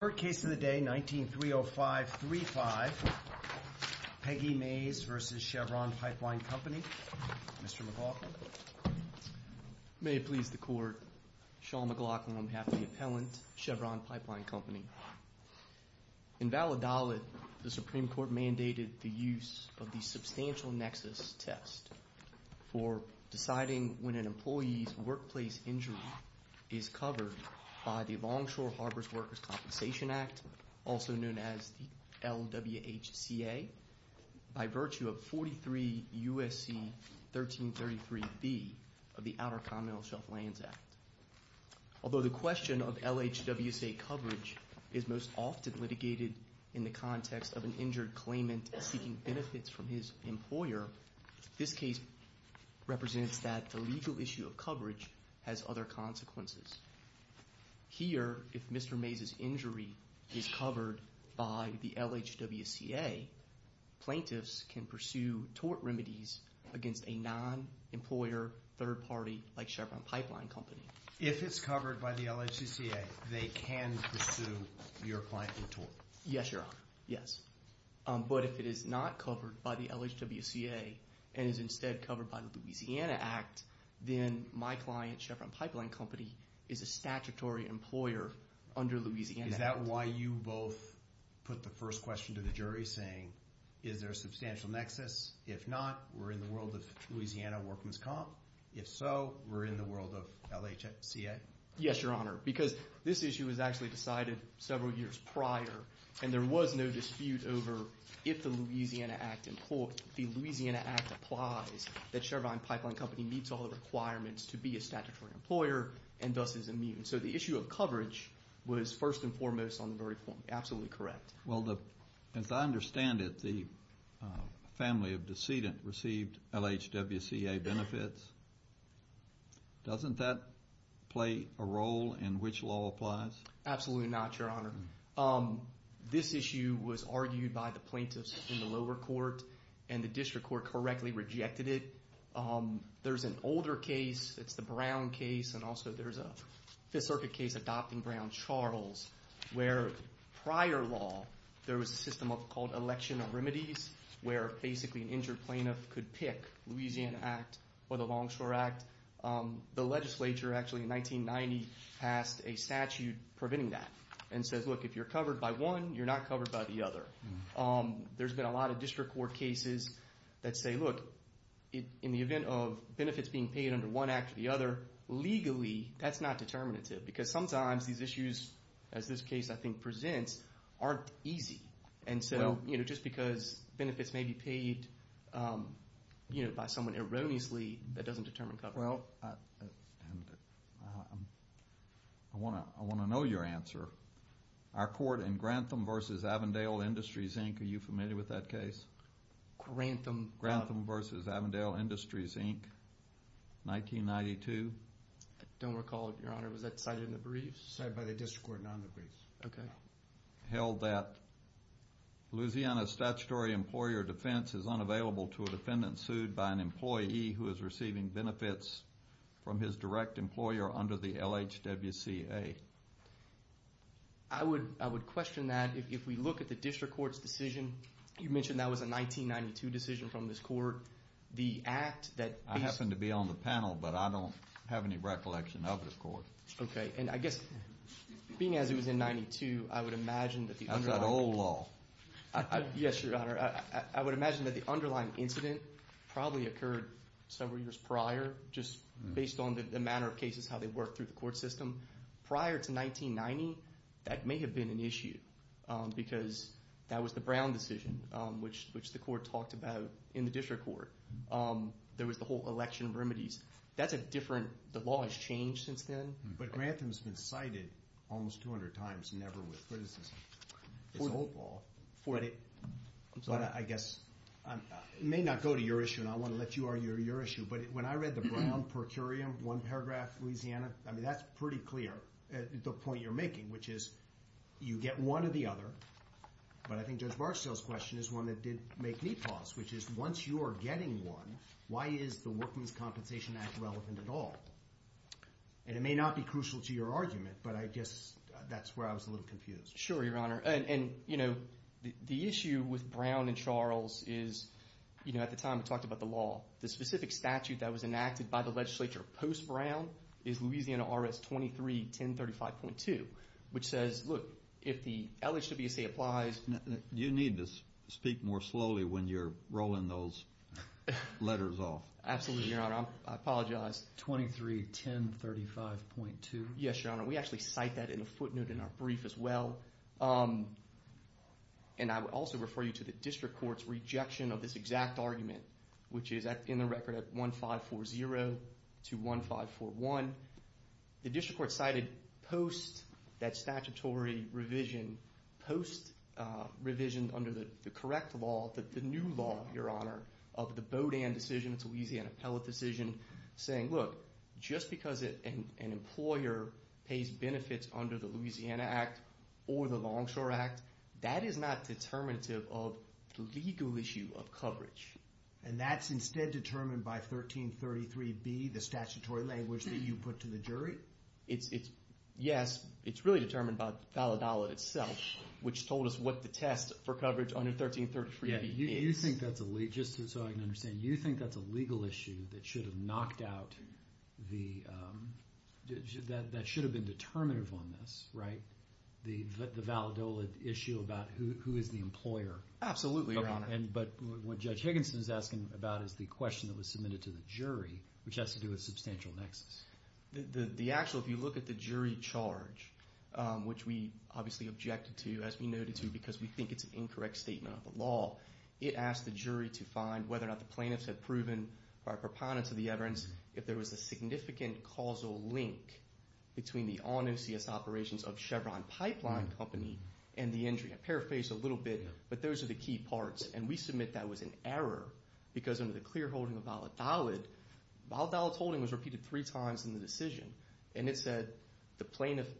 Court Case of the Day, 19-30535, Peggy Mays v. Chevron Pipe Line Company, Mr. McLaughlin. May it please the Court, Sean McLaughlin, I'm half of the appellant, Chevron Pipe Line Company. In Valadolid, the Supreme Court mandated the use of the substantial nexus test for deciding when an employee's workplace injury is covered by the Longshore Harbors Workers' Compensation Act, also known as the LWHCA, by virtue of 43 U.S.C. 1333B of the Outer Continental Shelf Lands Act. Although the question of LHWCA coverage is most often litigated in the context of an illegal issue of coverage has other consequences. Here if Mr. Mays' injury is covered by the LHWCA, plaintiffs can pursue tort remedies against a non-employer third party like Chevron Pipe Line Company. If it's covered by the LHWCA, they can pursue your client in tort? Yes, Your Honor, yes, but if it is not covered by the LHWCA and is instead covered by the then my client, Chevron Pipe Line Company, is a statutory employer under Louisiana Act. Is that why you both put the first question to the jury saying, is there a substantial nexus? If not, we're in the world of Louisiana Workers' Comp? If so, we're in the world of LHWCA? Yes, Your Honor, because this issue was actually decided several years prior and there was no dispute over if the Louisiana Act implies that Chevron Pipe Line Company meets all of the requirements to be a statutory employer and thus is immune. So the issue of coverage was first and foremost on the verdict form, absolutely correct. Well as I understand it, the family of the decedent received LHWCA benefits. Doesn't that play a role in which law applies? Absolutely not, Your Honor. This issue was argued by the plaintiffs in the lower court and the district court correctly rejected it. There's an older case, it's the Brown case, and also there's a Fifth Circuit case adopting Brown-Charles where prior law there was a system called election remedies where basically an injured plaintiff could pick Louisiana Act or the Longshore Act. The legislature actually in 1990 passed a statute preventing that and says, look, if you're covered by one, you're not covered by the other. There's been a lot of district court cases that say, look, in the event of benefits being paid under one act or the other, legally that's not determinative because sometimes these issues, as this case I think presents, aren't easy. And so just because benefits may be paid by someone erroneously, that doesn't determine coverage. Well, I want to know your answer. Our court in Grantham v. Avondale Industries, Inc., are you familiar with that case? Grantham. Grantham v. Avondale Industries, Inc., 1992. Don't recall it, Your Honor. Was that cited in the briefs? Cited by the district court, not in the briefs. OK. Held that Louisiana statutory employer defense is unavailable to a defendant sued by an employee who is receiving benefits from his direct employer under the LHWCA. I would question that. If we look at the district court's decision, you mentioned that was a 1992 decision from this court. The act that- I happen to be on the panel, but I don't have any recollection of this court. OK. And I guess, being as it was in 92, I would imagine that the underlying- That's that old law. Yes, Your Honor. I would imagine that the underlying incident probably occurred several years prior, just based on the manner of cases, how they work through the court system. Prior to 1990, that may have been an issue, because that was the Brown decision, which the court talked about in the district court. There was the whole election remedies. That's a different- The law has changed since then. But Grantham's been cited almost 200 times, never with criticism. It's an old law. But I guess, it may not go to your issue, and I want to let you argue your issue. But when I read the Brown per curiam, one paragraph, Louisiana, I mean, that's pretty clear, the point you're making, which is, you get one or the other. But I think Judge Barstow's question is one that did make me pause, which is, once you are getting one, why is the Workmen's Compensation Act relevant at all? And it may not be crucial to your argument, but I guess that's where I was a little confused. Sure, Your Honor. And, you know, the issue with Brown and Charles is, you know, at the time, we talked about the law. The specific statute that was enacted by the legislature post-Brown is Louisiana RS-23-1035.2, which says, look, if the LHWCA applies- You need to speak more slowly when you're rolling those letters off. Absolutely, Your Honor. I apologize. 23-1035.2? Yes, Your Honor. We actually cite that in a footnote in our brief as well. And I would also refer you to the district court's rejection of this exact argument, which is in the record at 1540 to 1541. The district court cited, post that statutory revision, post revision under the correct law, the new law, Your Honor, of the Bodan decision, it's a Louisiana appellate decision, saying, look, just because an employer pays benefits under the Louisiana Act or the Longshore Act, that is not determinative of the legal issue of coverage. And that's instead determined by 1333B, the statutory language that you put to the jury? Yes, it's really determined by the valid dollar itself, which told us what the test for coverage under 1333B is. Yeah, you think that's a- just so I can understand, you think that's a legal issue that should have knocked out the- that should have been determinative on this, right? The valid dollar issue about who is the employer? Absolutely, Your Honor. But what Judge Higginson is asking about is the question that was submitted to the jury, which has to do with substantial nexus. The actual, if you look at the jury charge, which we obviously objected to, as we noted to, because we think it's an incorrect statement of the law, it asked the jury to find whether or not the plaintiffs had proven, by proponents of the evidence, if there was a significant causal link between the all-new CS operations of Chevron Pipeline Company and the injury. I paraphrased a little bit, but those are the key parts. And we submit that was an error, because under the clear holding of valid dollar, valid dollar holding was repeated three times in the decision. And it said the plaintiff's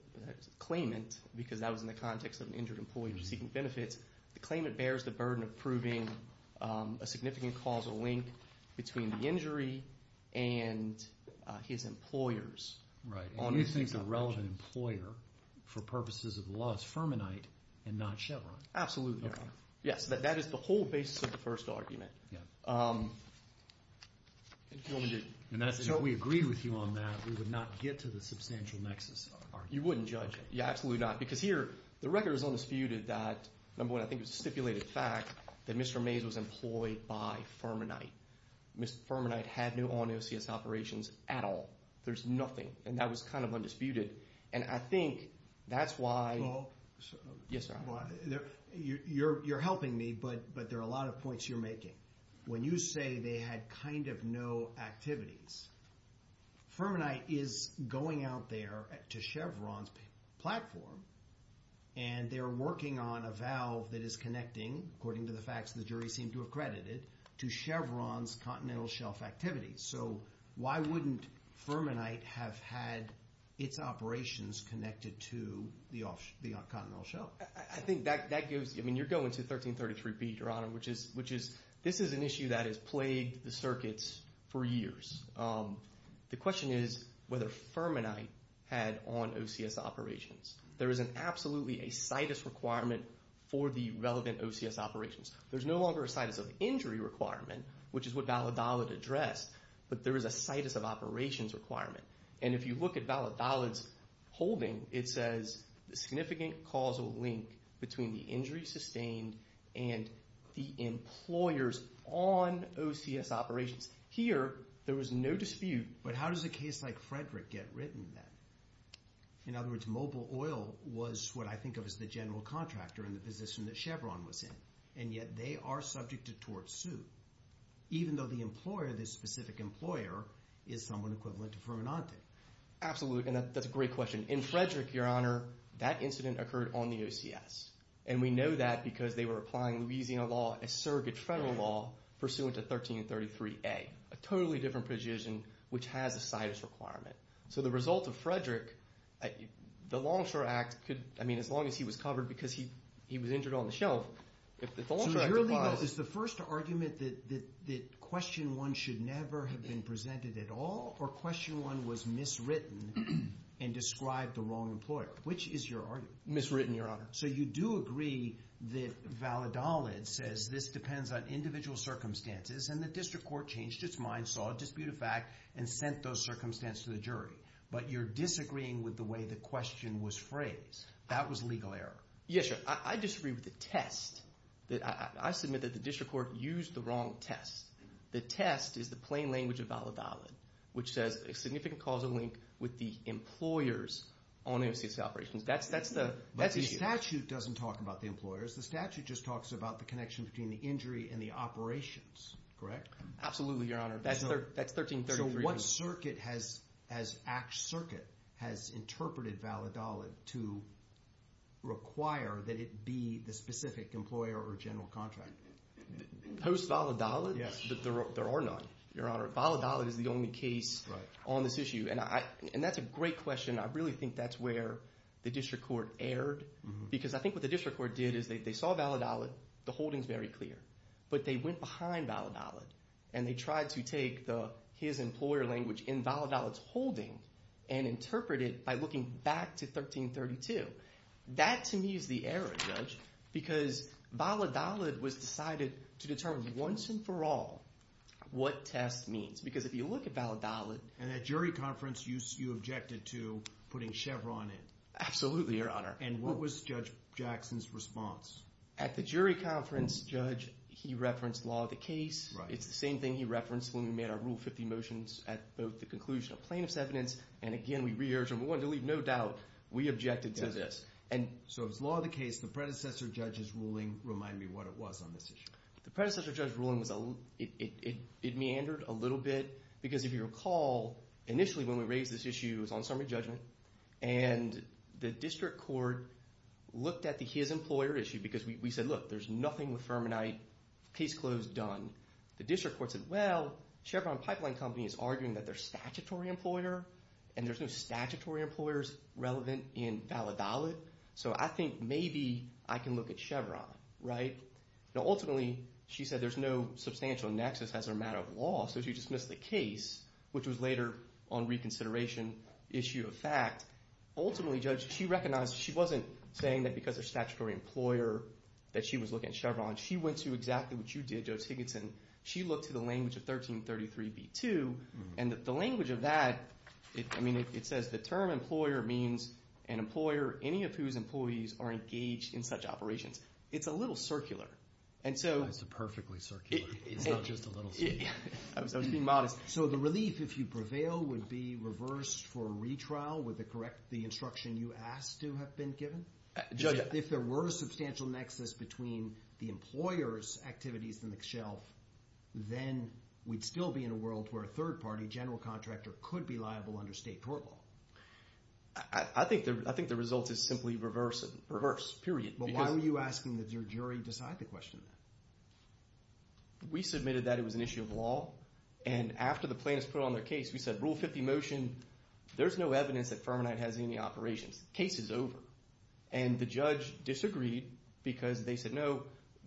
claimant, because that was in the context of an injured employee seeking benefits, the claimant bears the burden of proving a significant causal link between the injury and his employers on the CS operations. Right, and he thinks the relevant employer, for purposes of the law, is Fermanite and not Chevron. Absolutely, Your Honor. Okay. Yes, that is the whole basis of the first argument. Yeah. If you want me to... And that's, if we agreed with you on that, we would not get to the substantial nexus argument. You wouldn't judge it. Yeah, absolutely not. Because here, the record is undisputed that, number one, I think it was a stipulated fact that Mr. Mays was employed by Fermanite. Mr. Fermanite had no on-new CS operations at all. There's nothing. And that was kind of undisputed. And I think that's why... Well... Yes, sir. Well, you're helping me, but there are a lot of points you're making. When you say they had kind of no activities, Fermanite is going out there to Chevron's platform, and they're working on a valve that is connecting, according to the facts the jury seemed to have credited, to Chevron's Continental Shelf activities. So why wouldn't Fermanite have had its operations connected to the Continental Shelf? I think that gives, I mean, you're going to 1333B, Your Honor, which is, this is an issue that has plagued the circuits for years. The question is whether Fermanite had on OCS operations. There is an absolutely a situs requirement for the relevant OCS operations. There's no longer a situs of injury requirement, which is what Validolid addressed, but there is a situs of operations requirement. And if you look at Validolid's holding, it says the significant causal link between the injury sustained and the employers on OCS operations. Here, there was no dispute, but how does a case like Frederick get written then? In other words, Mobil Oil was what I think of as the general contractor in the position that Chevron was in, and yet they are subject to tort suit, even though the employer, this specific employer, is someone equivalent to Fermanite. Absolutely, and that's a great question. In Frederick, Your Honor, that incident occurred on the OCS. And we know that because they were applying Louisiana law as surrogate federal law pursuant to 1333A, a totally different position, which has a situs requirement. So the result of Frederick, the Longshore Act could, I mean, as long as he was covered because he was injured on the shelf, if the Longshore Act requires... So your legal, is the first argument that question one should never have been presented at all, or question one was miswritten and described the wrong employer? Which is your argument? Miswritten, Your Honor. So you do agree that Validolid says this depends on individual circumstances, and the district court changed its mind, saw a disputed fact, and sent those circumstances to the jury. But you're disagreeing with the way the question was phrased. That was legal error. Yes, Your Honor. I disagree with the test that, I submit that the district court used the wrong test. The test is the plain language of Validolid, which says a significant causal link with the employers on OCS operations. That's the issue. But the statute doesn't talk about the employers. The statute just talks about the connection between the injury and the operations, correct? Absolutely, Your Honor. That's 1333. So what circuit has Act Circuit has interpreted Validolid to require that it be the specific employer or general contract? Post-Validolid? Yes. There are none, Your Honor. Validolid is the only case on this issue. And that's a great question. And I really think that's where the district court erred. Because I think what the district court did is they saw Validolid. The holding's very clear. But they went behind Validolid. And they tried to take his employer language in Validolid's holding and interpret it by looking back to 1332. That to me is the error, Judge. Because Validolid was decided to determine once and for all what test means. Because if you look at Validolid. And at jury conference, you objected to putting Chevron in. Absolutely, Your Honor. And what was Judge Jackson's response? At the jury conference, Judge, he referenced law of the case. It's the same thing he referenced when we made our Rule 50 motions at both the conclusion of plaintiff's evidence. And again, we re-urged him. We wanted to leave no doubt. We objected to this. So it was law of the case. The predecessor judge's ruling reminded me what it was on this issue. The predecessor judge's ruling, it meandered a little bit. Because if you recall, initially when we raised this issue, it was on summary judgment. And the district court looked at the his employer issue. Because we said, look, there's nothing with Fermanite, case closed, done. The district court said, well, Chevron Pipeline Company is arguing that their statutory employer. And there's no statutory employers relevant in Validolid. So I think maybe I can look at Chevron, right? Now ultimately, she said there's no substantial nexus as a matter of law. So she dismissed the case, which was later on reconsideration issue of fact. Ultimately, Judge, she recognized she wasn't saying that because of statutory employer that she was looking at Chevron. She went to exactly what you did, Judge Higginson. She looked to the language of 1333b2. And the language of that, I mean, it says the term employer means an employer, any of whose employees are engaged in such operations. It's a little circular. And so. It's perfectly circular. It's not just a little. I was being modest. So the relief, if you prevail, would be reversed for a retrial with the correct, the instruction you asked to have been given? Judge, if there were a substantial nexus between the employer's activities and the shelf, then we'd still be in a world where a third party general contractor could be liable under state court law. I think the result is simply reverse it. Reverse, period. But why were you asking that your jury decide the question then? We submitted that it was an issue of law. And after the plaintiffs put on their case, we said rule 50 motion, there's no evidence that Fermanite has any operations. Case is over. And the judge disagreed because they said, no,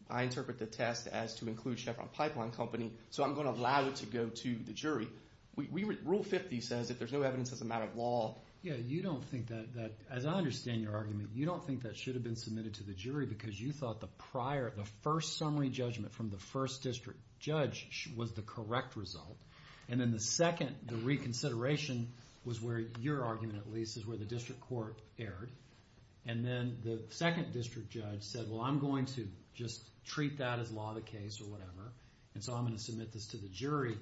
I interpret the test as to include Chevron Pipeline Company. So I'm going to allow it to go to the jury. Rule 50 says if there's no evidence as a matter of law. Yeah, you don't think that, as I understand your argument, you don't think that should have been submitted to the jury because you thought the prior, the first summary judgment from the first district judge was the correct result. And then the second, the reconsideration, was where your argument at least is where the district court erred. And then the second district judge said, well, I'm going to just treat that as law of the case or whatever. And so I'm going to submit this to the jury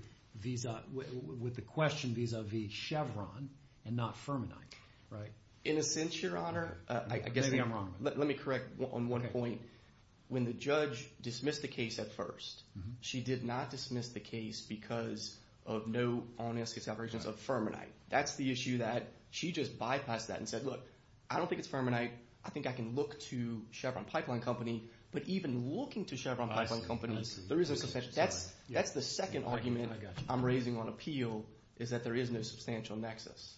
with the question vis-a-vis Chevron and not Fermanite. Right? In a sense, your honor, I guess let me correct on one point. When the judge dismissed the case at first, she did not dismiss the case because of no on-escase operations of Fermanite. That's the issue that she just bypassed that and said, look, I don't think it's Fermanite. I think I can look to Chevron Pipeline Company. But even looking to Chevron Pipeline Company, that's the second argument I'm raising on appeal is that there is no substantial nexus.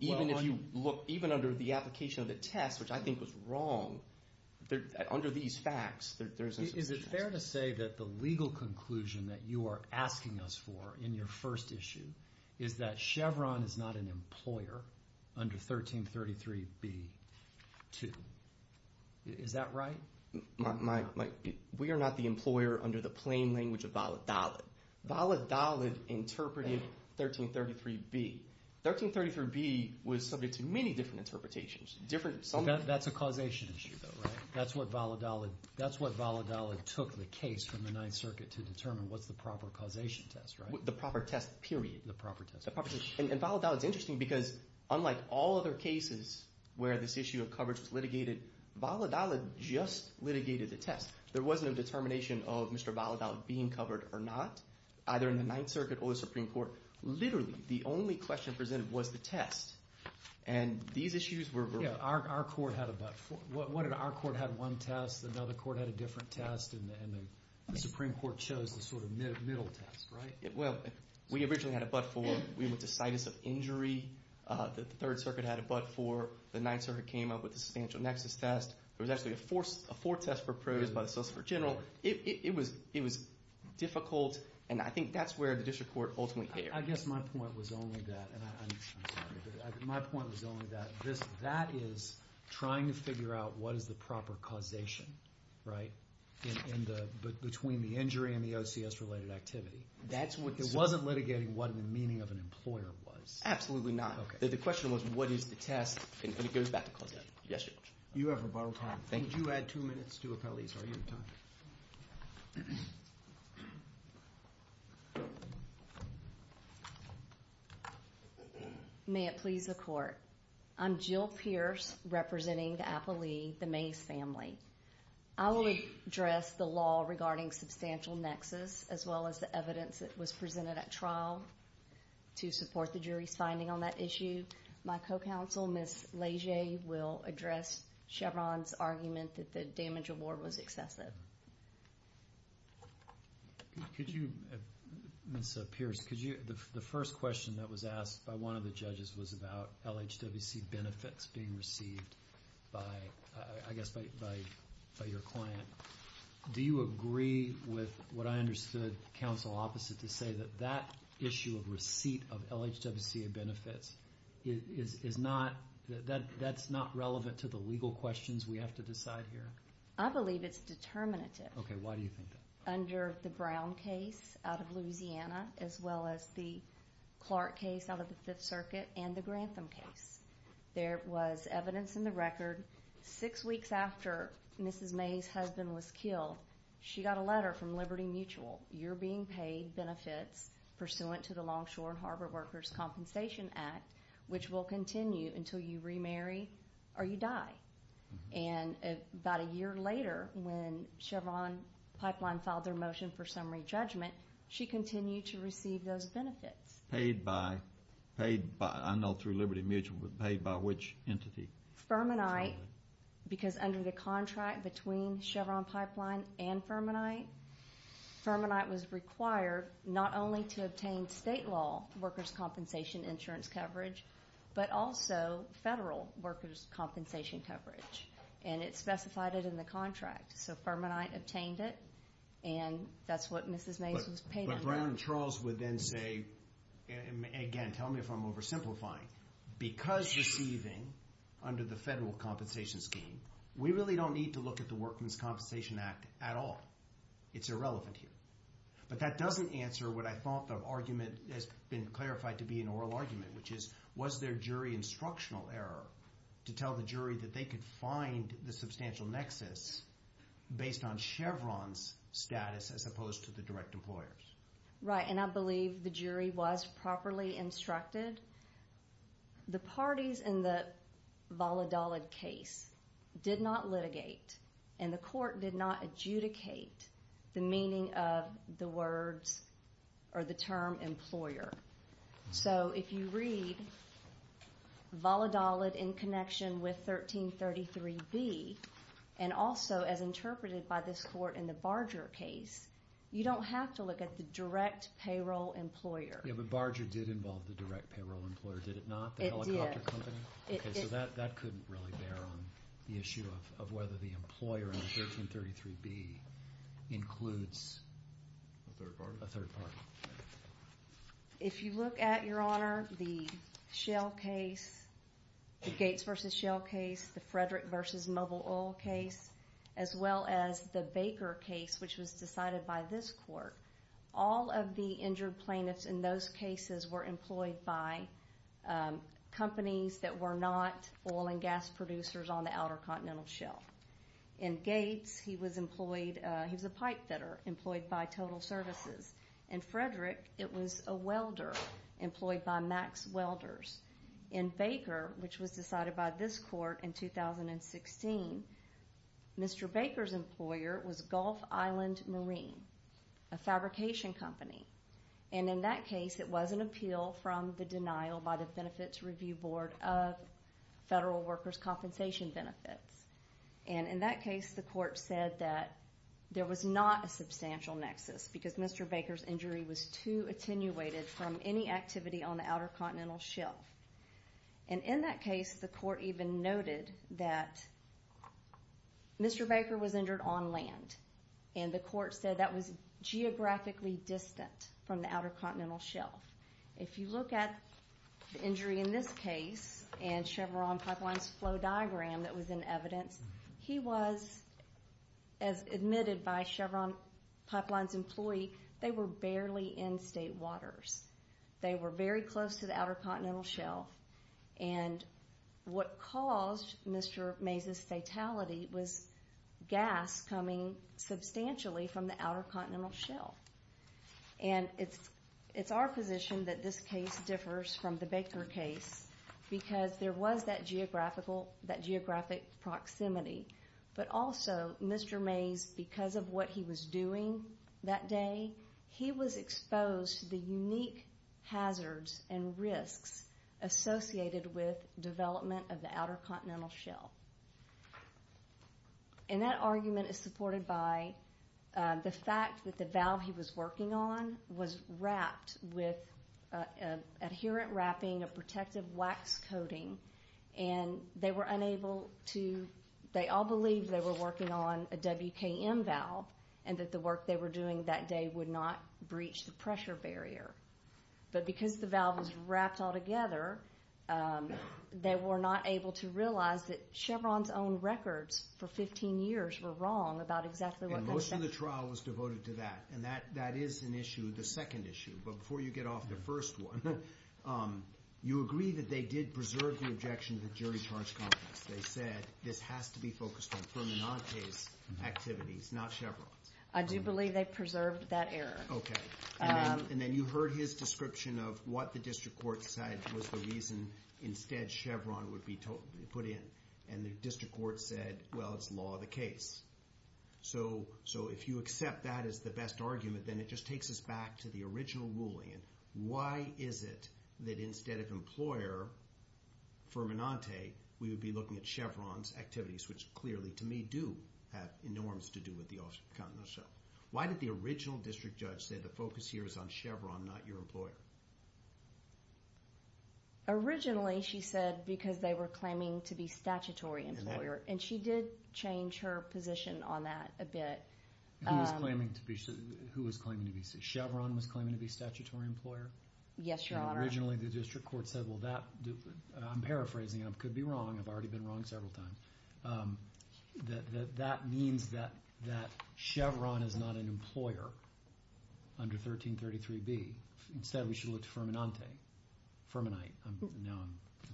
Even if you look, even under the application of the test, which I think was wrong, under these facts, there is no substantial nexus. Is it fair to say that the legal conclusion that you are asking us for in your first issue is that Chevron is not an employer under 1333B-2? Is that right? We are not the employer under the plain language of valid-dolid. Valid-dolid interpreted 1333B. 1333B was subject to many different interpretations. That's a causation issue, though, right? That's what valid-dolid took the case from the Ninth Circuit to determine what's the proper causation test, right? The proper test, period. The proper test. The proper test. And valid-dolid is interesting because unlike all other cases where this issue of coverage was litigated, valid-dolid just litigated the test. There wasn't a determination of Mr. valid-dolid being covered or not, either in the Ninth Circuit. The issue presented was the test. And these issues were... Our court had a but-for. What did our court had one test, another court had a different test, and the Supreme Court chose the sort of middle test, right? Well, we originally had a but-for. We went to situs of injury. The Third Circuit had a but-for. The Ninth Circuit came up with a substantial nexus test. There was actually a fourth test proposed by the Solicitor General. It was difficult, and I think that's where the district court ultimately erred. I guess my point was only that, and I'm sorry, but my point was only that that is trying to figure out what is the proper causation, right, between the injury and the OCS-related activity. That's what... It wasn't litigating what the meaning of an employer was. Absolutely not. Okay. The question was, what is the test? And it goes back to causation. Yes, Judge. You have rebuttal time. Thank you. You do add two minutes to Appellee's argument time. May it please the Court. I'm Jill Pierce, representing the Appellee, the Mays family. I will address the law regarding substantial nexus, as well as the evidence that was presented at trial, to support the jury's finding on that issue. My co-counsel, Ms. Leger, will address Chevron's argument that the damage award was excessive. Ms. Pierce, the first question that was asked by one of the judges was about LHWC benefits being received by, I guess, by your client. Do you agree with what I understood counsel opposite to say, that that issue of receipt of LHWC benefits, that's not relevant to the legal questions we have to decide here? I believe it's determinative. Okay. Why do you think that? Under the Brown case out of Louisiana, as well as the Clark case out of the Fifth Circuit and the Grantham case. There was evidence in the record, six weeks after Mrs. May's husband was killed, she got a letter from Liberty Mutual. You're being paid benefits pursuant to the Longshore and Harbor Workers' Compensation Act, which will continue until you remarry or you die. And about a year later, when Chevron Pipeline filed their motion for summary judgment, she continued to receive those benefits. Paid by, paid by, I know through Liberty Mutual, but paid by which entity? Fermanite. Fermanite, because under the contract between Chevron Pipeline and Fermanite, Fermanite was required, not only to obtain state law workers' compensation insurance coverage, but also federal workers' compensation coverage. And it specified it in the contract. So Fermanite obtained it, and that's what Mrs. May's was paid for. But Brown and Charles would then say, again, tell me if I'm oversimplifying, because receiving under the federal compensation scheme, we really don't need to look at the Workmen's Compensation Act at all. It's irrelevant here. But that doesn't answer what I thought the argument has been clarified to be an oral argument, which is, was there jury instructional error to tell the jury that they could find the substantial nexus based on Chevron's status as opposed to the direct employer's? Right. And I believe the jury was properly instructed. The parties in the Valladolid case did not litigate, and the court did not adjudicate the meaning of the words or the term employer. So if you read Valladolid in connection with 1333B, and also as interpreted by this court in the Barger case, you don't have to look at the direct payroll employer. Yeah, but Barger did involve the direct payroll employer, did it not? It did. The helicopter company? Okay, so that couldn't really bear on the issue of whether the employer in 1333B includes a third party. If you look at, Your Honor, the Shell case, the Gates v. Shell case, the Frederick v. Mobile Oil case, as well as the Baker case, which was decided by this court, all of the those cases were employed by companies that were not oil and gas producers on the Outer Continental Shell. In Gates, he was employed, he was a pipe fitter, employed by Total Services. In Frederick, it was a welder, employed by Max Welders. In Baker, which was decided by this court in 2016, Mr. Baker's employer was Gulf Island Marine, a fabrication company. In that case, it was an appeal from the denial by the Benefits Review Board of Federal Workers' Compensation Benefits. In that case, the court said that there was not a substantial nexus because Mr. Baker's injury was too attenuated from any activity on the Outer Continental Shelf. In that case, the court even noted that Mr. Baker was injured on land, and the court said that was geographically distant from the Outer Continental Shelf. If you look at the injury in this case and Chevron Pipeline's flow diagram that was in evidence, he was, as admitted by Chevron Pipeline's employee, they were barely in state waters. They were very close to the Outer Continental Shelf, and what caused Mr. Mays's fatality was gas coming substantially from the Outer Continental Shelf. It's our position that this case differs from the Baker case because there was that geographic proximity, but also Mr. Mays, because of what he was doing that day, he was exposed to the unique hazards and risks associated with development of the Outer Continental Shelf. And that argument is supported by the fact that the valve he was working on was wrapped with adherent wrapping, a protective wax coating, and they were unable to, they all believed they were working on a WKM valve, and that the work they were doing that day would not breach the pressure barrier. But because the valve was wrapped all together, they were not able to realize that Chevron's own records for 15 years were wrong about exactly what they were saying. And most of the trial was devoted to that, and that is an issue, the second issue, but before you get off the first one, you agree that they did preserve the objection to the jury charge complex. They said, this has to be focused on Fermanante's activities, not Chevron's. I do believe they preserved that error. Okay. And then you heard his description of what the district court said was the reason instead Chevron would be put in, and the district court said, well, it's law of the case. So if you accept that as the best argument, then it just takes us back to the original ruling. And why is it that instead of employer, Fermanante, we would be looking at Chevron's activities, which clearly, to me, do have enormous to do with the Outer Continental Shelf? Why did the original district judge say the focus here is on Chevron, not your employer? Originally, she said because they were claiming to be statutory employer, and she did change her position on that a bit. Who was claiming to be, Chevron was claiming to be statutory employer? Yes, your honor. And originally the district court said, well, that, I'm paraphrasing, I could be wrong, I've already been wrong several times, that that means that Chevron is not an employer under 1333B. Instead, we should look to Fermanante. Fermanite. Now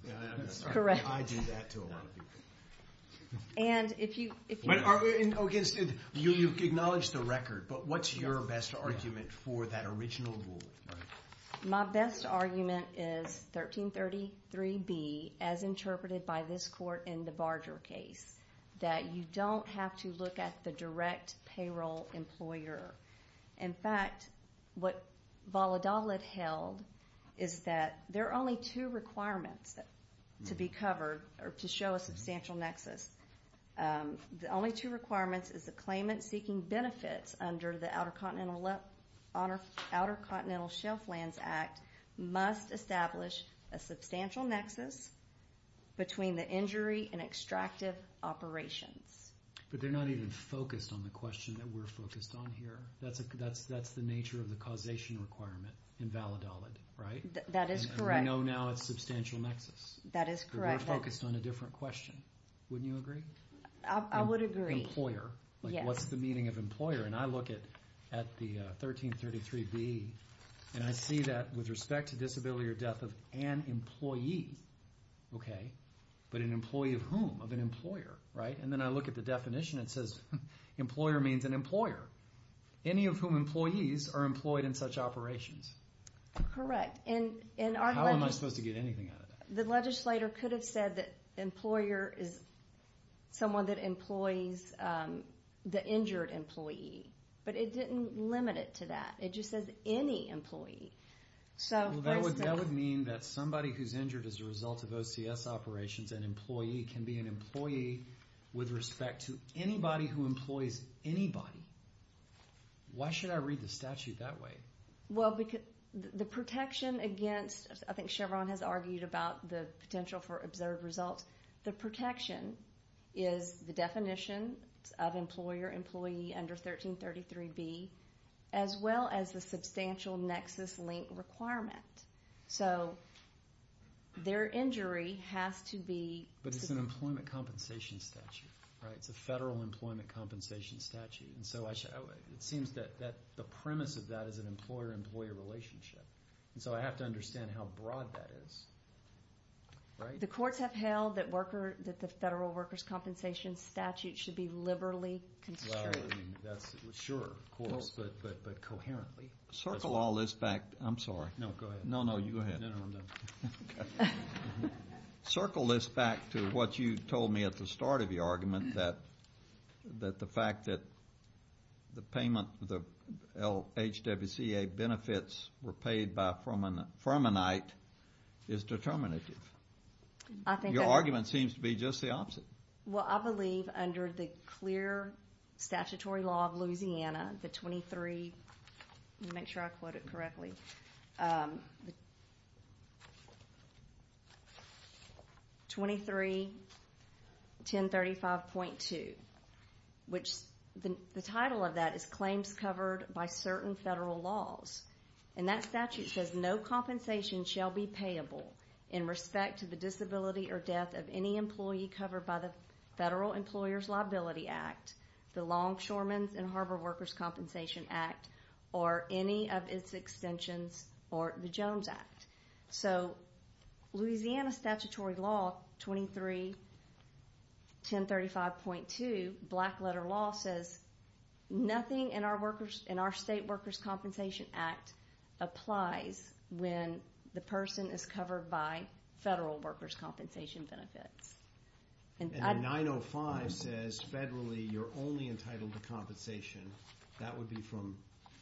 I'm... That's correct. I do that to a lot of people. And if you... Okay, so you acknowledge the record, but what's your best argument for that original rule? My best argument is 1333B, as interpreted by this court in the Barger case, that you don't have to look at the direct payroll employer. In fact, what Valladolid held is that there are only two requirements to be covered, or to show a substantial nexus. The only two requirements is the claimant seeking benefits under the Outer Continental Shelf Lands Act must establish a substantial nexus between the injury and extractive operations. But they're not even focused on the question that we're focused on here. That's the nature of the causation requirement in Valladolid, right? That is correct. And we know now it's substantial nexus. That is correct. But we're focused on a different question. Wouldn't you agree? I would agree. Employer. Yes. Like, what's the meaning of employer? And I look at the 1333B, and I see that with respect to disability or death of an employee, okay, but an employee of whom? Of an employer, right? And then I look at the definition. It says employer means an employer. Any of whom employees are employed in such operations. Correct. How am I supposed to get anything out of that? The legislator could have said that employer is someone that employs the injured employee. But it didn't limit it to that. It just says any employee. That would mean that somebody who's injured as a result of OCS operations, an employee, can be an employee with respect to anybody who employs anybody. Why should I read the statute that way? Well, the protection against, I think Chevron has argued about the potential for observed results. The protection is the definition of employer, employee under 1333B, as well as the substantial nexus link requirement. So their injury has to be... But it's an employment compensation statute, right? It's a federal employment compensation statute. And so it seems that the premise of that is an employer-employee relationship. And so I have to understand how broad that is, right? The courts have held that the federal workers' compensation statute should be liberally constrained. Sure, of course, but coherently. Circle all this back. I'm sorry. No, go ahead. No, no, you go ahead. No, no, I'm done. Circle this back to what you told me at the start of your argument, that the fact that the payment, the LHWCA benefits were paid by Furmanite is determinative. Your argument seems to be just the opposite. Well, I believe under the clear statutory law of Louisiana, the 23... 23.1035.2, which the title of that is claims covered by certain federal laws. And that statute says no compensation shall be payable in respect to the disability or death of any employee covered by the Federal Employers' Liability Act, the Longshoremen's and Harbor Workers' Compensation Act, or any of its extensions, or the Jones Act. So Louisiana statutory law 23.1035.2, black letter law, says nothing in our State Workers' Compensation Act applies when the person is covered by federal workers' compensation benefits. And 905 says federally you're only entitled to compensation. That would be from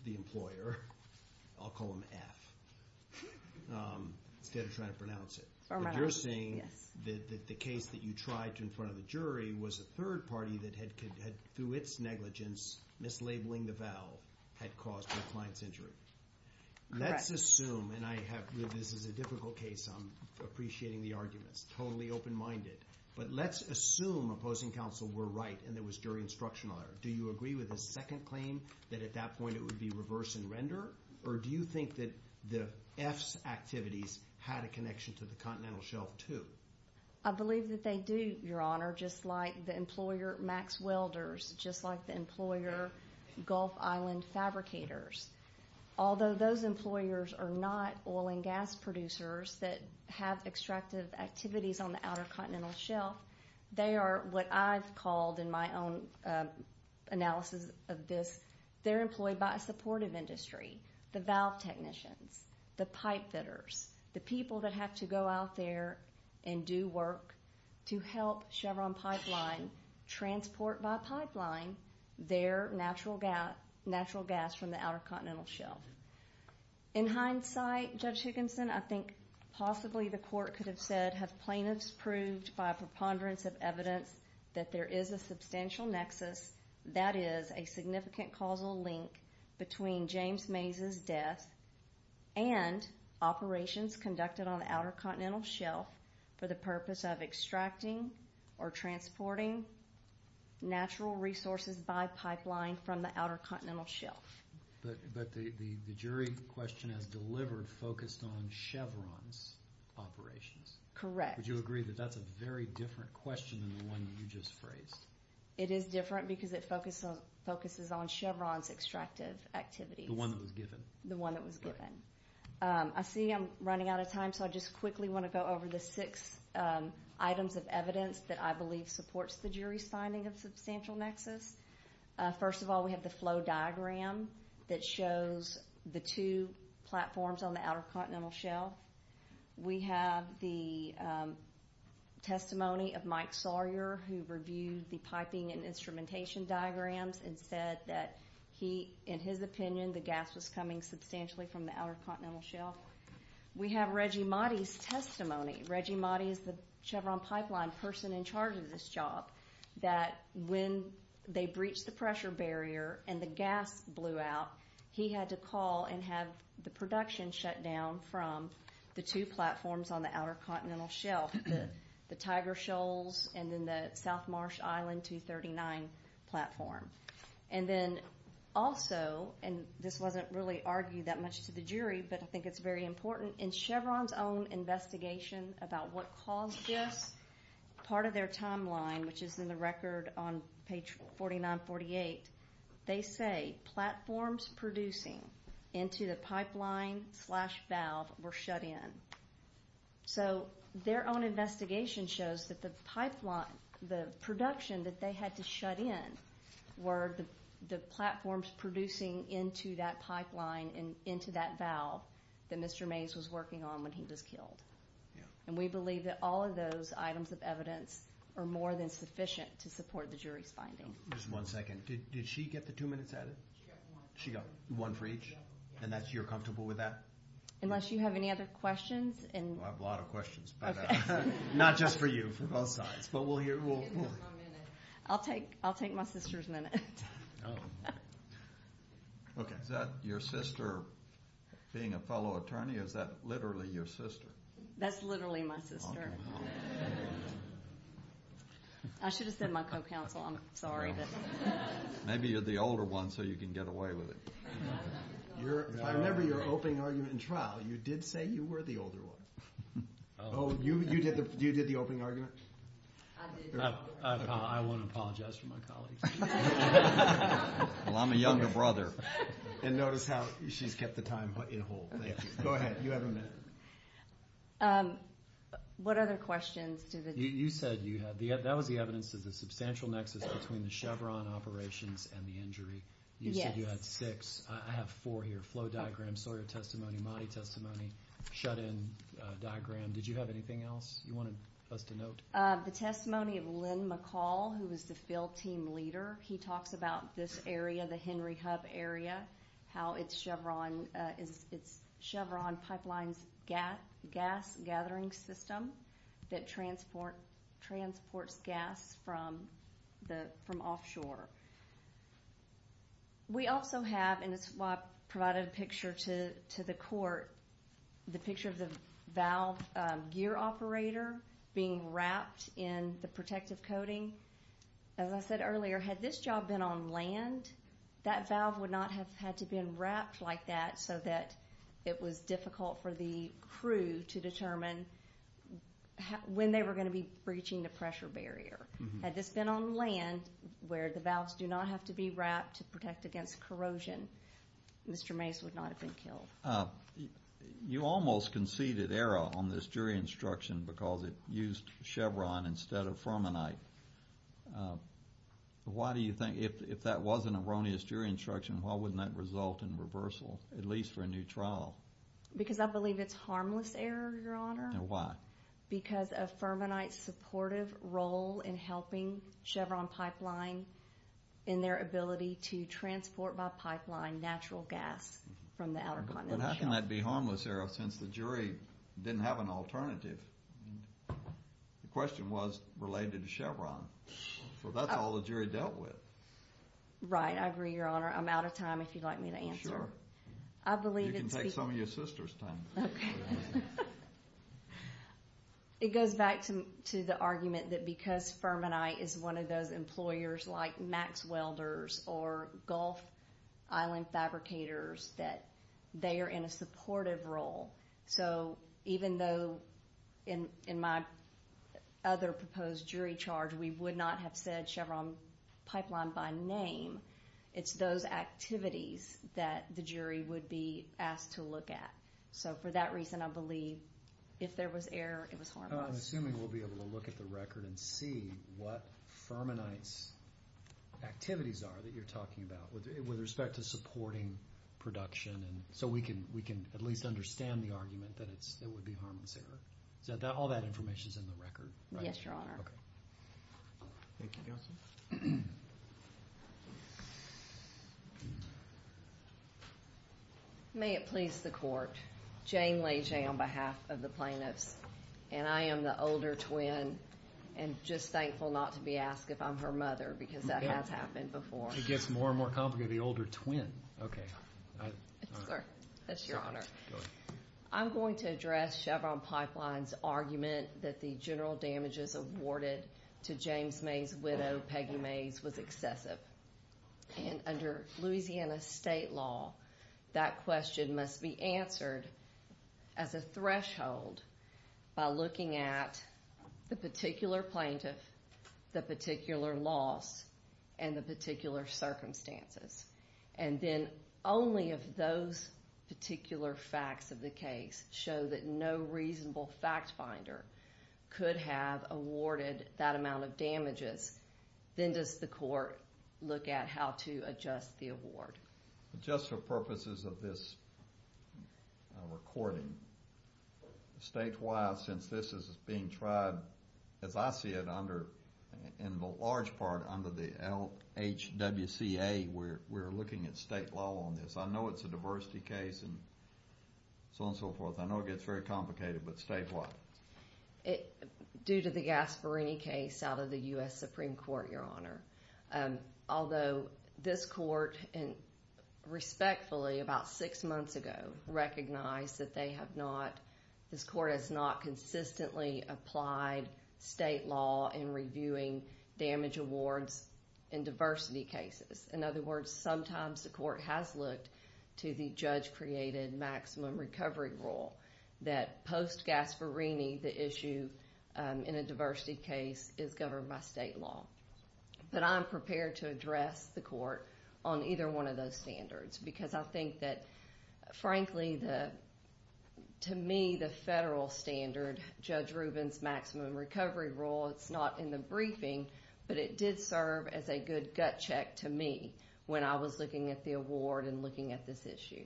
the employer. I'll call him F instead of trying to pronounce it. But you're saying that the case that you tried to in front of the jury was a third party that had, through its negligence, mislabeling the vow had caused the client's injury. Correct. Let's assume, and this is a difficult case, I'm appreciating the arguments, totally open-minded, but let's assume opposing counsel were right and there was jury instruction on it. Do you agree with the second claim, that at that point it would be reverse and render? Or do you think that the F's activities had a connection to the Continental Shelf too? I believe that they do, Your Honor, just like the employer Max Welders, just like the employer Gulf Island Fabricators. Although those employers are not oil and gas producers that have extractive activities on the Outer Continental Shelf, they are what I've called in my own analysis of this, they're employed by a supportive industry, the valve technicians, the pipe fitters, the people that have to go out there and do work to help Chevron Pipeline transport by pipeline their natural gas from the Outer Continental Shelf. In hindsight, Judge Higginson, I think possibly the court could have said that you have plaintiffs proved by a preponderance of evidence that there is a substantial nexus, that is, a significant causal link between James Mays' death and operations conducted on the Outer Continental Shelf for the purpose of extracting or transporting natural resources by pipeline from the Outer Continental Shelf. But the jury question has delivered focused on Chevron's operations. Correct. Would you agree that that's a very different question than the one you just phrased? It is different because it focuses on Chevron's extractive activities. The one that was given. The one that was given. I see I'm running out of time, so I just quickly want to go over the six items of evidence that I believe supports the jury's finding of substantial nexus. First of all, we have the flow diagram that shows the two platforms on the Outer Continental Shelf. We have the testimony of Mike Sawyer, who reviewed the piping and instrumentation diagrams and said that he, in his opinion, the gas was coming substantially from the Outer Continental Shelf. We have Reggie Mahdi's testimony. Reggie Mahdi is the Chevron Pipeline person in charge of this job, that when they breached the pressure barrier and the gas blew out, he had to call and have the production shut down from the two platforms on the Outer Continental Shelf, the Tiger Shoals and then the South Marsh Island 239 platform. And then also, and this wasn't really argued that much to the jury, but I think it's very important, in Chevron's own investigation about what caused this, part of their timeline, which is in the record on page 4948, they say platforms producing into the pipeline slash valve were shut in. So their own investigation shows that the production that they had to shut in were the platforms producing into that pipeline and into that valve that Mr. Mays was working on when he was killed. And we believe that all of those items of evidence are more than sufficient to support the jury's finding. Just one second. Did she get the two minutes added? She got one. She got one for each? Yeah. And you're comfortable with that? Unless you have any other questions. Well, I have a lot of questions. Not just for you, for both sides, but we'll hear. I'll take my sister's minute. Okay. Is that your sister being a fellow attorney? Or is that literally your sister? That's literally my sister. Okay. I should have said my co-counsel. I'm sorry. Maybe you're the older one, so you can get away with it. I remember your opening argument in trial. You did say you were the older one. Oh, you did the opening argument? I did. I want to apologize for my colleagues. Well, I'm a younger brother. And notice how she's kept the time in whole. Thank you. Go ahead. You have a minute. What other questions? You said you had the evidence. That was the evidence of the substantial nexus between the Chevron operations and the injury. You said you had six. I have four here. Flow diagram, Sawyer testimony, Mahdi testimony, shut-in diagram. Did you have anything else you wanted us to note? The testimony of Lynn McCall, who was the field team leader. He talks about this area, the Henry Hub area, how it's Chevron Pipeline's gas gathering system that transports gas from offshore. We also have, and it's why I provided a picture to the court, the picture of the valve gear operator being wrapped in the protective coating. As I said earlier, had this job been on land, that valve would not have had to been wrapped like that so that it was difficult for the crew to determine when they were going to be breaching the pressure barrier. Had this been on land where the valves do not have to be wrapped to protect against corrosion, Mr. Mase would not have been killed. You almost conceded error on this jury instruction because it used Chevron instead of Fermanite. Why do you think, if that was an erroneous jury instruction, why wouldn't that result in reversal, at least for a new trial? Because I believe it's harmless error, Your Honor. Why? Because of Fermanite's supportive role in helping Chevron Pipeline in their ability to transport by pipeline natural gas from the Outer Continental Shelf. But how can that be harmless error since the jury didn't have an alternative? The question was related to Chevron. So that's all the jury dealt with. Right. I agree, Your Honor. I'm out of time if you'd like me to answer. Sure. You can take some of your sister's time. Okay. It goes back to the argument that because Fermanite is one of those employers like Max Welders or Gulf Island Fabricators that they are in a supportive role. So even though in my other proposed jury charge we would not have said Chevron Pipeline by name, it's those activities that the jury would be asked to look at. So for that reason, I believe if there was error, it was harmless. Well, I'm assuming we'll be able to look at the record and see what Fermanite's activities are that you're talking about with respect to supporting production so we can at least understand the argument that it would be harmless error. So all that information is in the record, right? Yes, Your Honor. Okay. Thank you, Counsel. May it please the Court. Jane Lege on behalf of the plaintiffs, and I am the older twin and just thankful not to be asked if I'm her mother because that has happened before. It gets more and more complicated, the older twin. Okay. Sir, that's Your Honor. Go ahead. I'm going to address Chevron Pipeline's argument that the general damages awarded to James May's widow, Peggy Mays, was excessive. And under Louisiana state law, that question must be answered as a threshold by looking at the particular plaintiff, the particular loss, and the particular circumstances. And then only if those particular facts of the case show that no reasonable fact finder could have awarded that amount of damages, then does the Court look at how to adjust the award. Just for purposes of this recording, statewide since this is being tried, as I see it, in the large part under the LHWCA, we're looking at state law on this. I know it's a diversity case and so on and so forth. I know it gets very complicated, but statewide? Due to the Gasparini case out of the U.S. Supreme Court, Your Honor. Although this Court, respectfully, about six months ago, recognized that this Court has not consistently applied state law in reviewing damage awards in diversity cases. In other words, sometimes the Court has looked to the judge-created maximum recovery rule that post-Gasparini, the issue in a diversity case is governed by state law. But I'm prepared to address the Court on either one of those standards because I think that, frankly, to me, the federal standard, Judge Rubin's maximum recovery rule, it's not in the briefing, but it did serve as a good gut check to me when I was looking at the award and looking at this issue.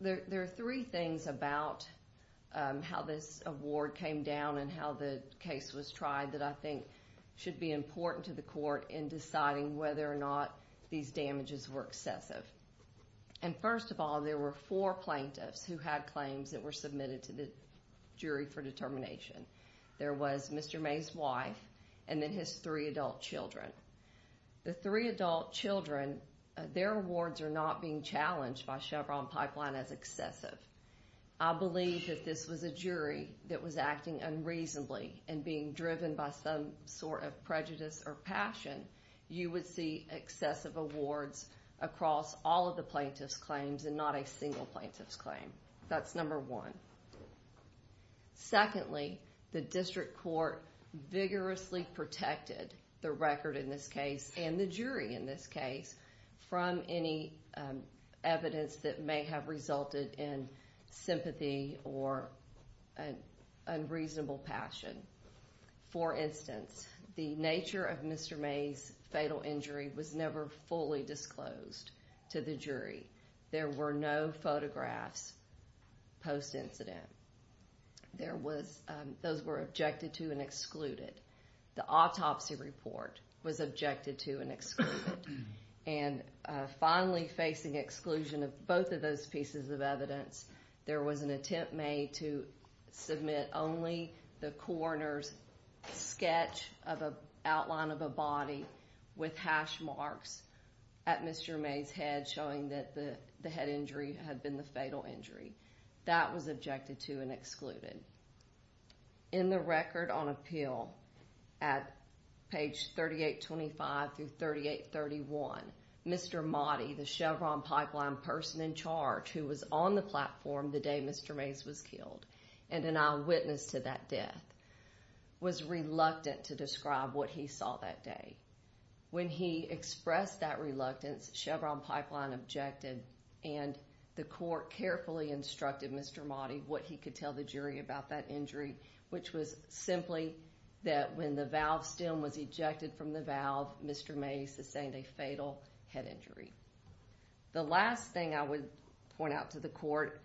There are three things about how this award came down and how the case was tried that I think should be important to the Court in deciding whether or not these damages were excessive. First of all, there were four plaintiffs who had claims that were submitted to the jury for determination. There was Mr. May's wife and then his three adult children. The three adult children, their awards are not being challenged by Chevron Pipeline as excessive. I believe if this was a jury that was acting unreasonably and being driven by some sort of prejudice or passion, you would see excessive awards across all of the plaintiffs' claims and not a single plaintiff's claim. That's number one. Secondly, the District Court vigorously protected the record in this case and the jury in this case from any evidence that may have resulted in sympathy or an unreasonable passion. For instance, the nature of Mr. May's fatal injury was never fully disclosed to the jury. There were no photographs post-incident. Those were objected to and excluded. The autopsy report was objected to and excluded. And finally, facing exclusion of both of those pieces of evidence, there was an attempt made to submit only the coroner's sketch of an outline of a body with hash marks at Mr. May's head showing that the head injury had been the fatal injury. That was objected to and excluded. In the record on appeal at page 3825 through 3831, Mr. Motti, the Chevron Pipeline person in charge who was on the platform the day Mr. Mays was killed and an eyewitness to that death, was reluctant to describe what he saw that day. When he expressed that reluctance, Chevron Pipeline objected and the court carefully instructed Mr. Motti what he could tell the jury about that injury, which was simply that when the valve stem was ejected from the valve, Mr. Mays sustained a fatal head injury. The last thing I would point out to the court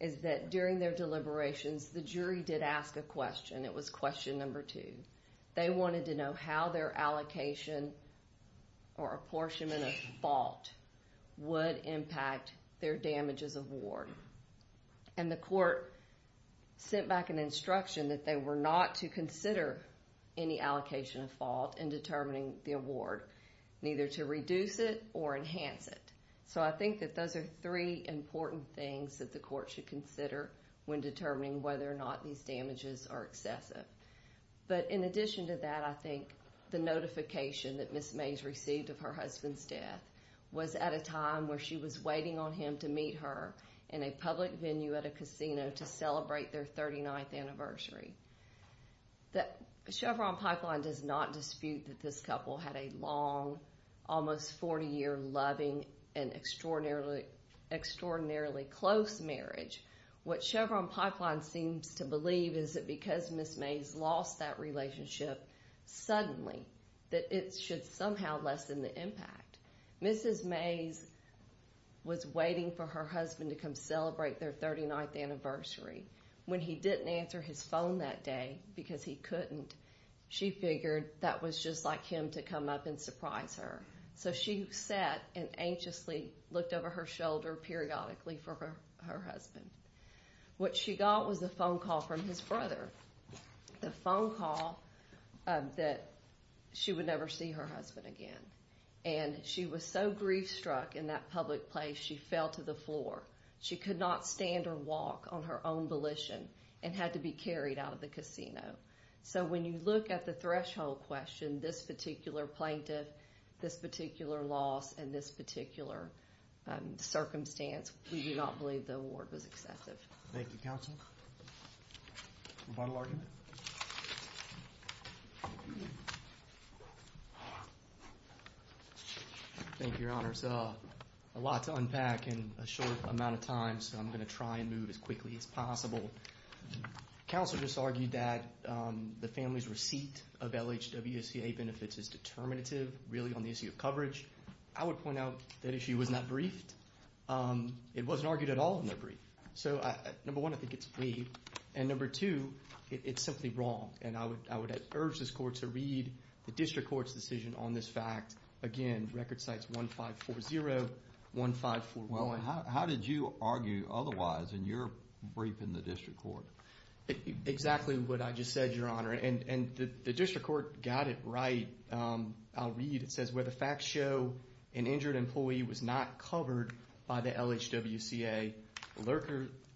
is that during their deliberations, the jury did ask a question. It was question number two. They wanted to know how their allocation or apportionment of fault would impact their damages of ward. And the court sent back an instruction that they were not to consider any allocation of fault in determining the award, neither to reduce it or enhance it. So I think that those are three important things that the court should consider when determining whether or not these damages are excessive. But in addition to that, I think the notification that Ms. Mays received of her husband's death was at a time where she was waiting on him to meet her in a public venue at a casino to celebrate their 39th anniversary. Chevron Pipeline does not dispute that this couple had a long, almost 40-year loving and extraordinarily close marriage. What Chevron Pipeline seems to believe is that because Ms. Mays lost that relationship suddenly, that it should somehow lessen the impact. Mrs. Mays was waiting for her husband to come celebrate their 39th anniversary. When he didn't answer his phone that day because he couldn't, she figured that was just like him to come up and surprise her. So she sat and anxiously looked over her shoulder periodically for her husband. What she got was a phone call from his brother, the phone call that she would never see her husband again. And she was so grief-struck in that public place, she fell to the floor. She could not stand or walk on her own volition and had to be carried out of the casino. So when you look at the threshold question, this particular plaintiff, this particular loss, and this particular circumstance, we do not believe the award was excessive. Thank you, Counsel. Rebuttal argument? Thank you, Your Honors. A lot to unpack in a short amount of time, so I'm going to try and move as quickly as possible. Counsel just argued that the family's receipt of LHWCA benefits is determinative, really, on the issue of coverage. I would point out that issue was not briefed. It wasn't argued at all in their brief. So, number one, I think it's vague. And number two, it's simply wrong. And I would urge this Court to read the District Court's decision on this fact. Again, Record Cites 1540, 1541. How did you argue otherwise in your brief in the District Court? Exactly what I just said, Your Honor. And the District Court got it right. I'll read. It says, Where the facts show an injured employee was not covered by the LHWCA,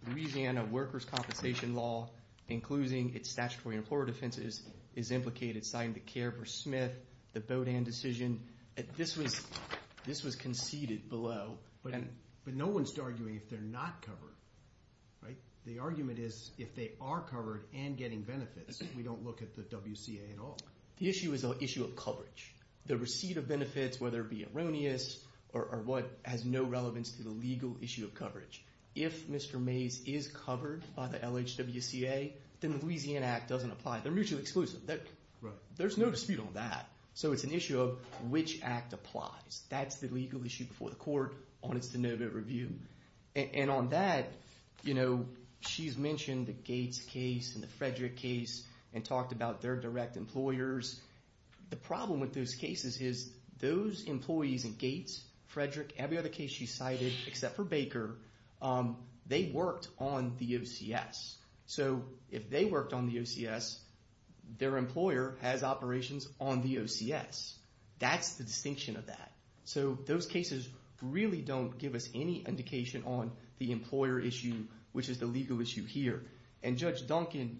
Louisiana workers' compensation law, including its statutory employer defenses, is implicated citing the care for Smith, the Bodan decision. This was conceded below. But no one's arguing if they're not covered, right? The argument is if they are covered and getting benefits, we don't look at the WCA at all. The issue is the issue of coverage. The receipt of benefits, whether it be erroneous or what has no relevance to the legal issue of coverage. If Mr. Mays is covered by the LHWCA, then the Louisiana Act doesn't apply. They're mutually exclusive. There's no dispute on that. So it's an issue of which Act applies. That's the legal issue before the court on its de novo review. And on that, you know, she's mentioned the Gates case and the Frederick case and talked about their direct employers. The problem with those cases is those employees in Gates, Frederick, every other case she cited except for Baker, they worked on the OCS. So if they worked on the OCS, their employer has operations on the OCS. That's the distinction of that. So those cases really don't give us any indication on the employer issue, which is the legal issue here. And Judge Duncan,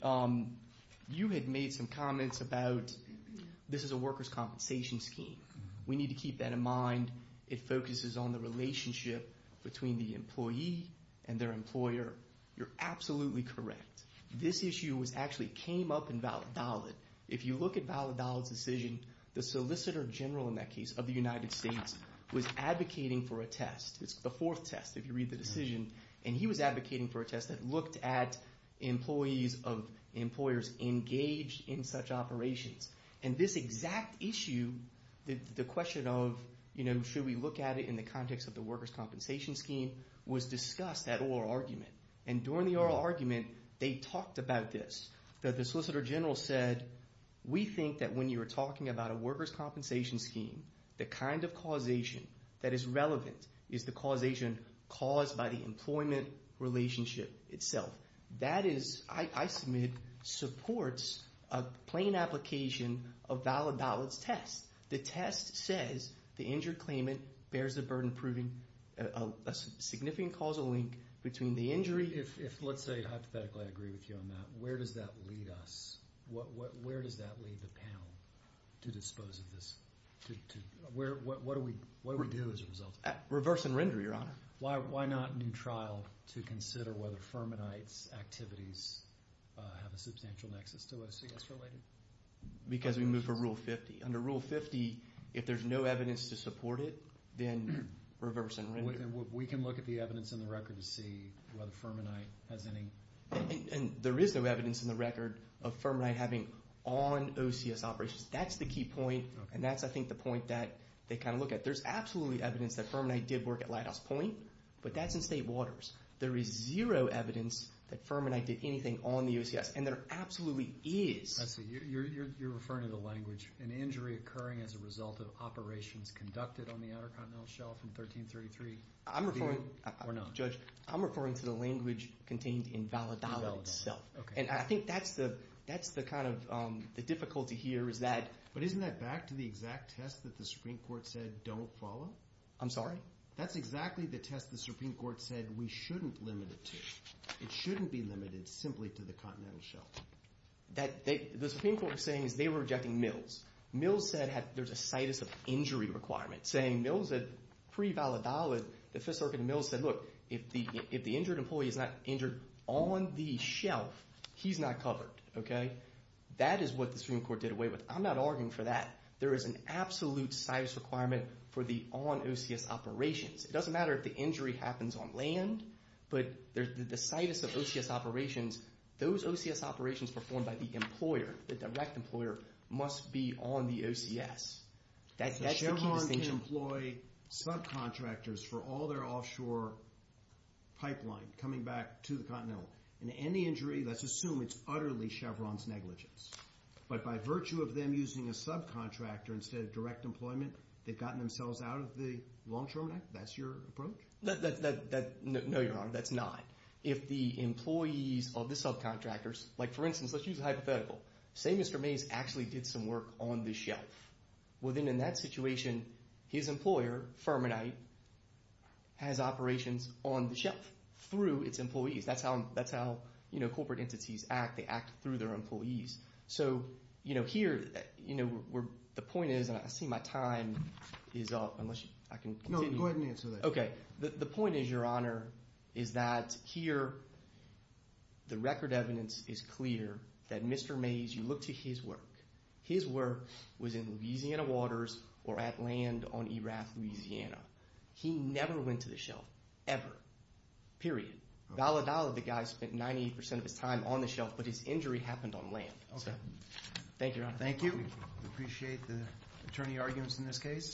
you had made some comments about this is a workers' compensation scheme. We need to keep that in mind. It focuses on the relationship between the employee and their employer. You're absolutely correct. This issue actually came up in Validolid. If you look at Validolid's decision, the Solicitor General in that case of the United States was advocating for a test. It's the fourth test if you read the decision. And he was advocating for a test that looked at employees of employers engaged in such operations. And this exact issue, the question of, you know, should we look at it in the context of the workers' compensation scheme was discussed at oral argument. And during the oral argument, they talked about this, that the Solicitor General said, we think that when you're talking about a workers' compensation scheme, the kind of causation that is relevant is the causation caused by the employment relationship itself. That is, I submit, supports a plain application of Validolid's test. The test says the injured claimant bears the burden proving a significant causal link between the injury. If, let's say, hypothetically I agree with you on that, where does that lead us? Where does that lead the panel to dispose of this? What do we do as a result? Reverse and render, Your Honor. Why not new trial to consider whether Fermanite's activities have a substantial nexus to us, I guess, related? Because we move to Rule 50. Under Rule 50, if there's no evidence to support it, then reverse and render. We can look at the evidence in the record to see whether Fermanite has any. There is no evidence in the record of Fermanite having on OCS operations. That's the key point, and that's, I think, the point that they kind of look at. There's absolutely evidence that Fermanite did work at Lighthouse Point, but that's in state waters. There is zero evidence that Fermanite did anything on the OCS, and there absolutely is. You're referring to the language, an injury occurring as a result of operations conducted on the Outer Continental Shelf in 1333. Judge, I'm referring to the language contained in Valadolid itself. And I think that's the kind of difficulty here is that... But isn't that back to the exact test that the Supreme Court said, don't follow? I'm sorry? That's exactly the test the Supreme Court said we shouldn't limit it to. It shouldn't be limited simply to the Continental Shelf. The Supreme Court was saying is they were rejecting Mills. Mills said there's a situs of injury requirement, saying Mills at pre-Valadolid, the Fifth Circuit of Mills said, look, if the injured employee is not injured on the shelf, he's not covered. That is what the Supreme Court did away with. I'm not arguing for that. There is an absolute situs requirement for the on OCS operations. It doesn't matter if the injury happens on land, but the situs of OCS operations, those OCS operations performed by the employer, the direct employer, must be on the OCS. That's the key distinction. Chevron can employ subcontractors for all their offshore pipeline coming back to the Continental. In any injury, let's assume it's utterly Chevron's negligence. But by virtue of them using a subcontractor instead of direct employment, they've gotten themselves out of the long-term net? That's your approach? No, Your Honor, that's not. If the employees of the subcontractors, like, for instance, let's use a hypothetical. Say Mr. Mays actually did some work on the shelf. Well, then in that situation, his employer, Fermanite, has operations on the shelf through its employees. That's how corporate entities act. They act through their employees. So here, the point is, and I see my time is up. No, go ahead and answer that. Okay. The point is, Your Honor, is that here the record evidence is clear that Mr. Mays, you look to his work, his work was in Louisiana waters or at land on Erath, Louisiana. He never went to the shelf, ever, period. Validality, the guy spent 98% of his time on the shelf, but his injury happened on land. Okay. Thank you, Your Honor. Thank you. We appreciate the attorney arguments in this case.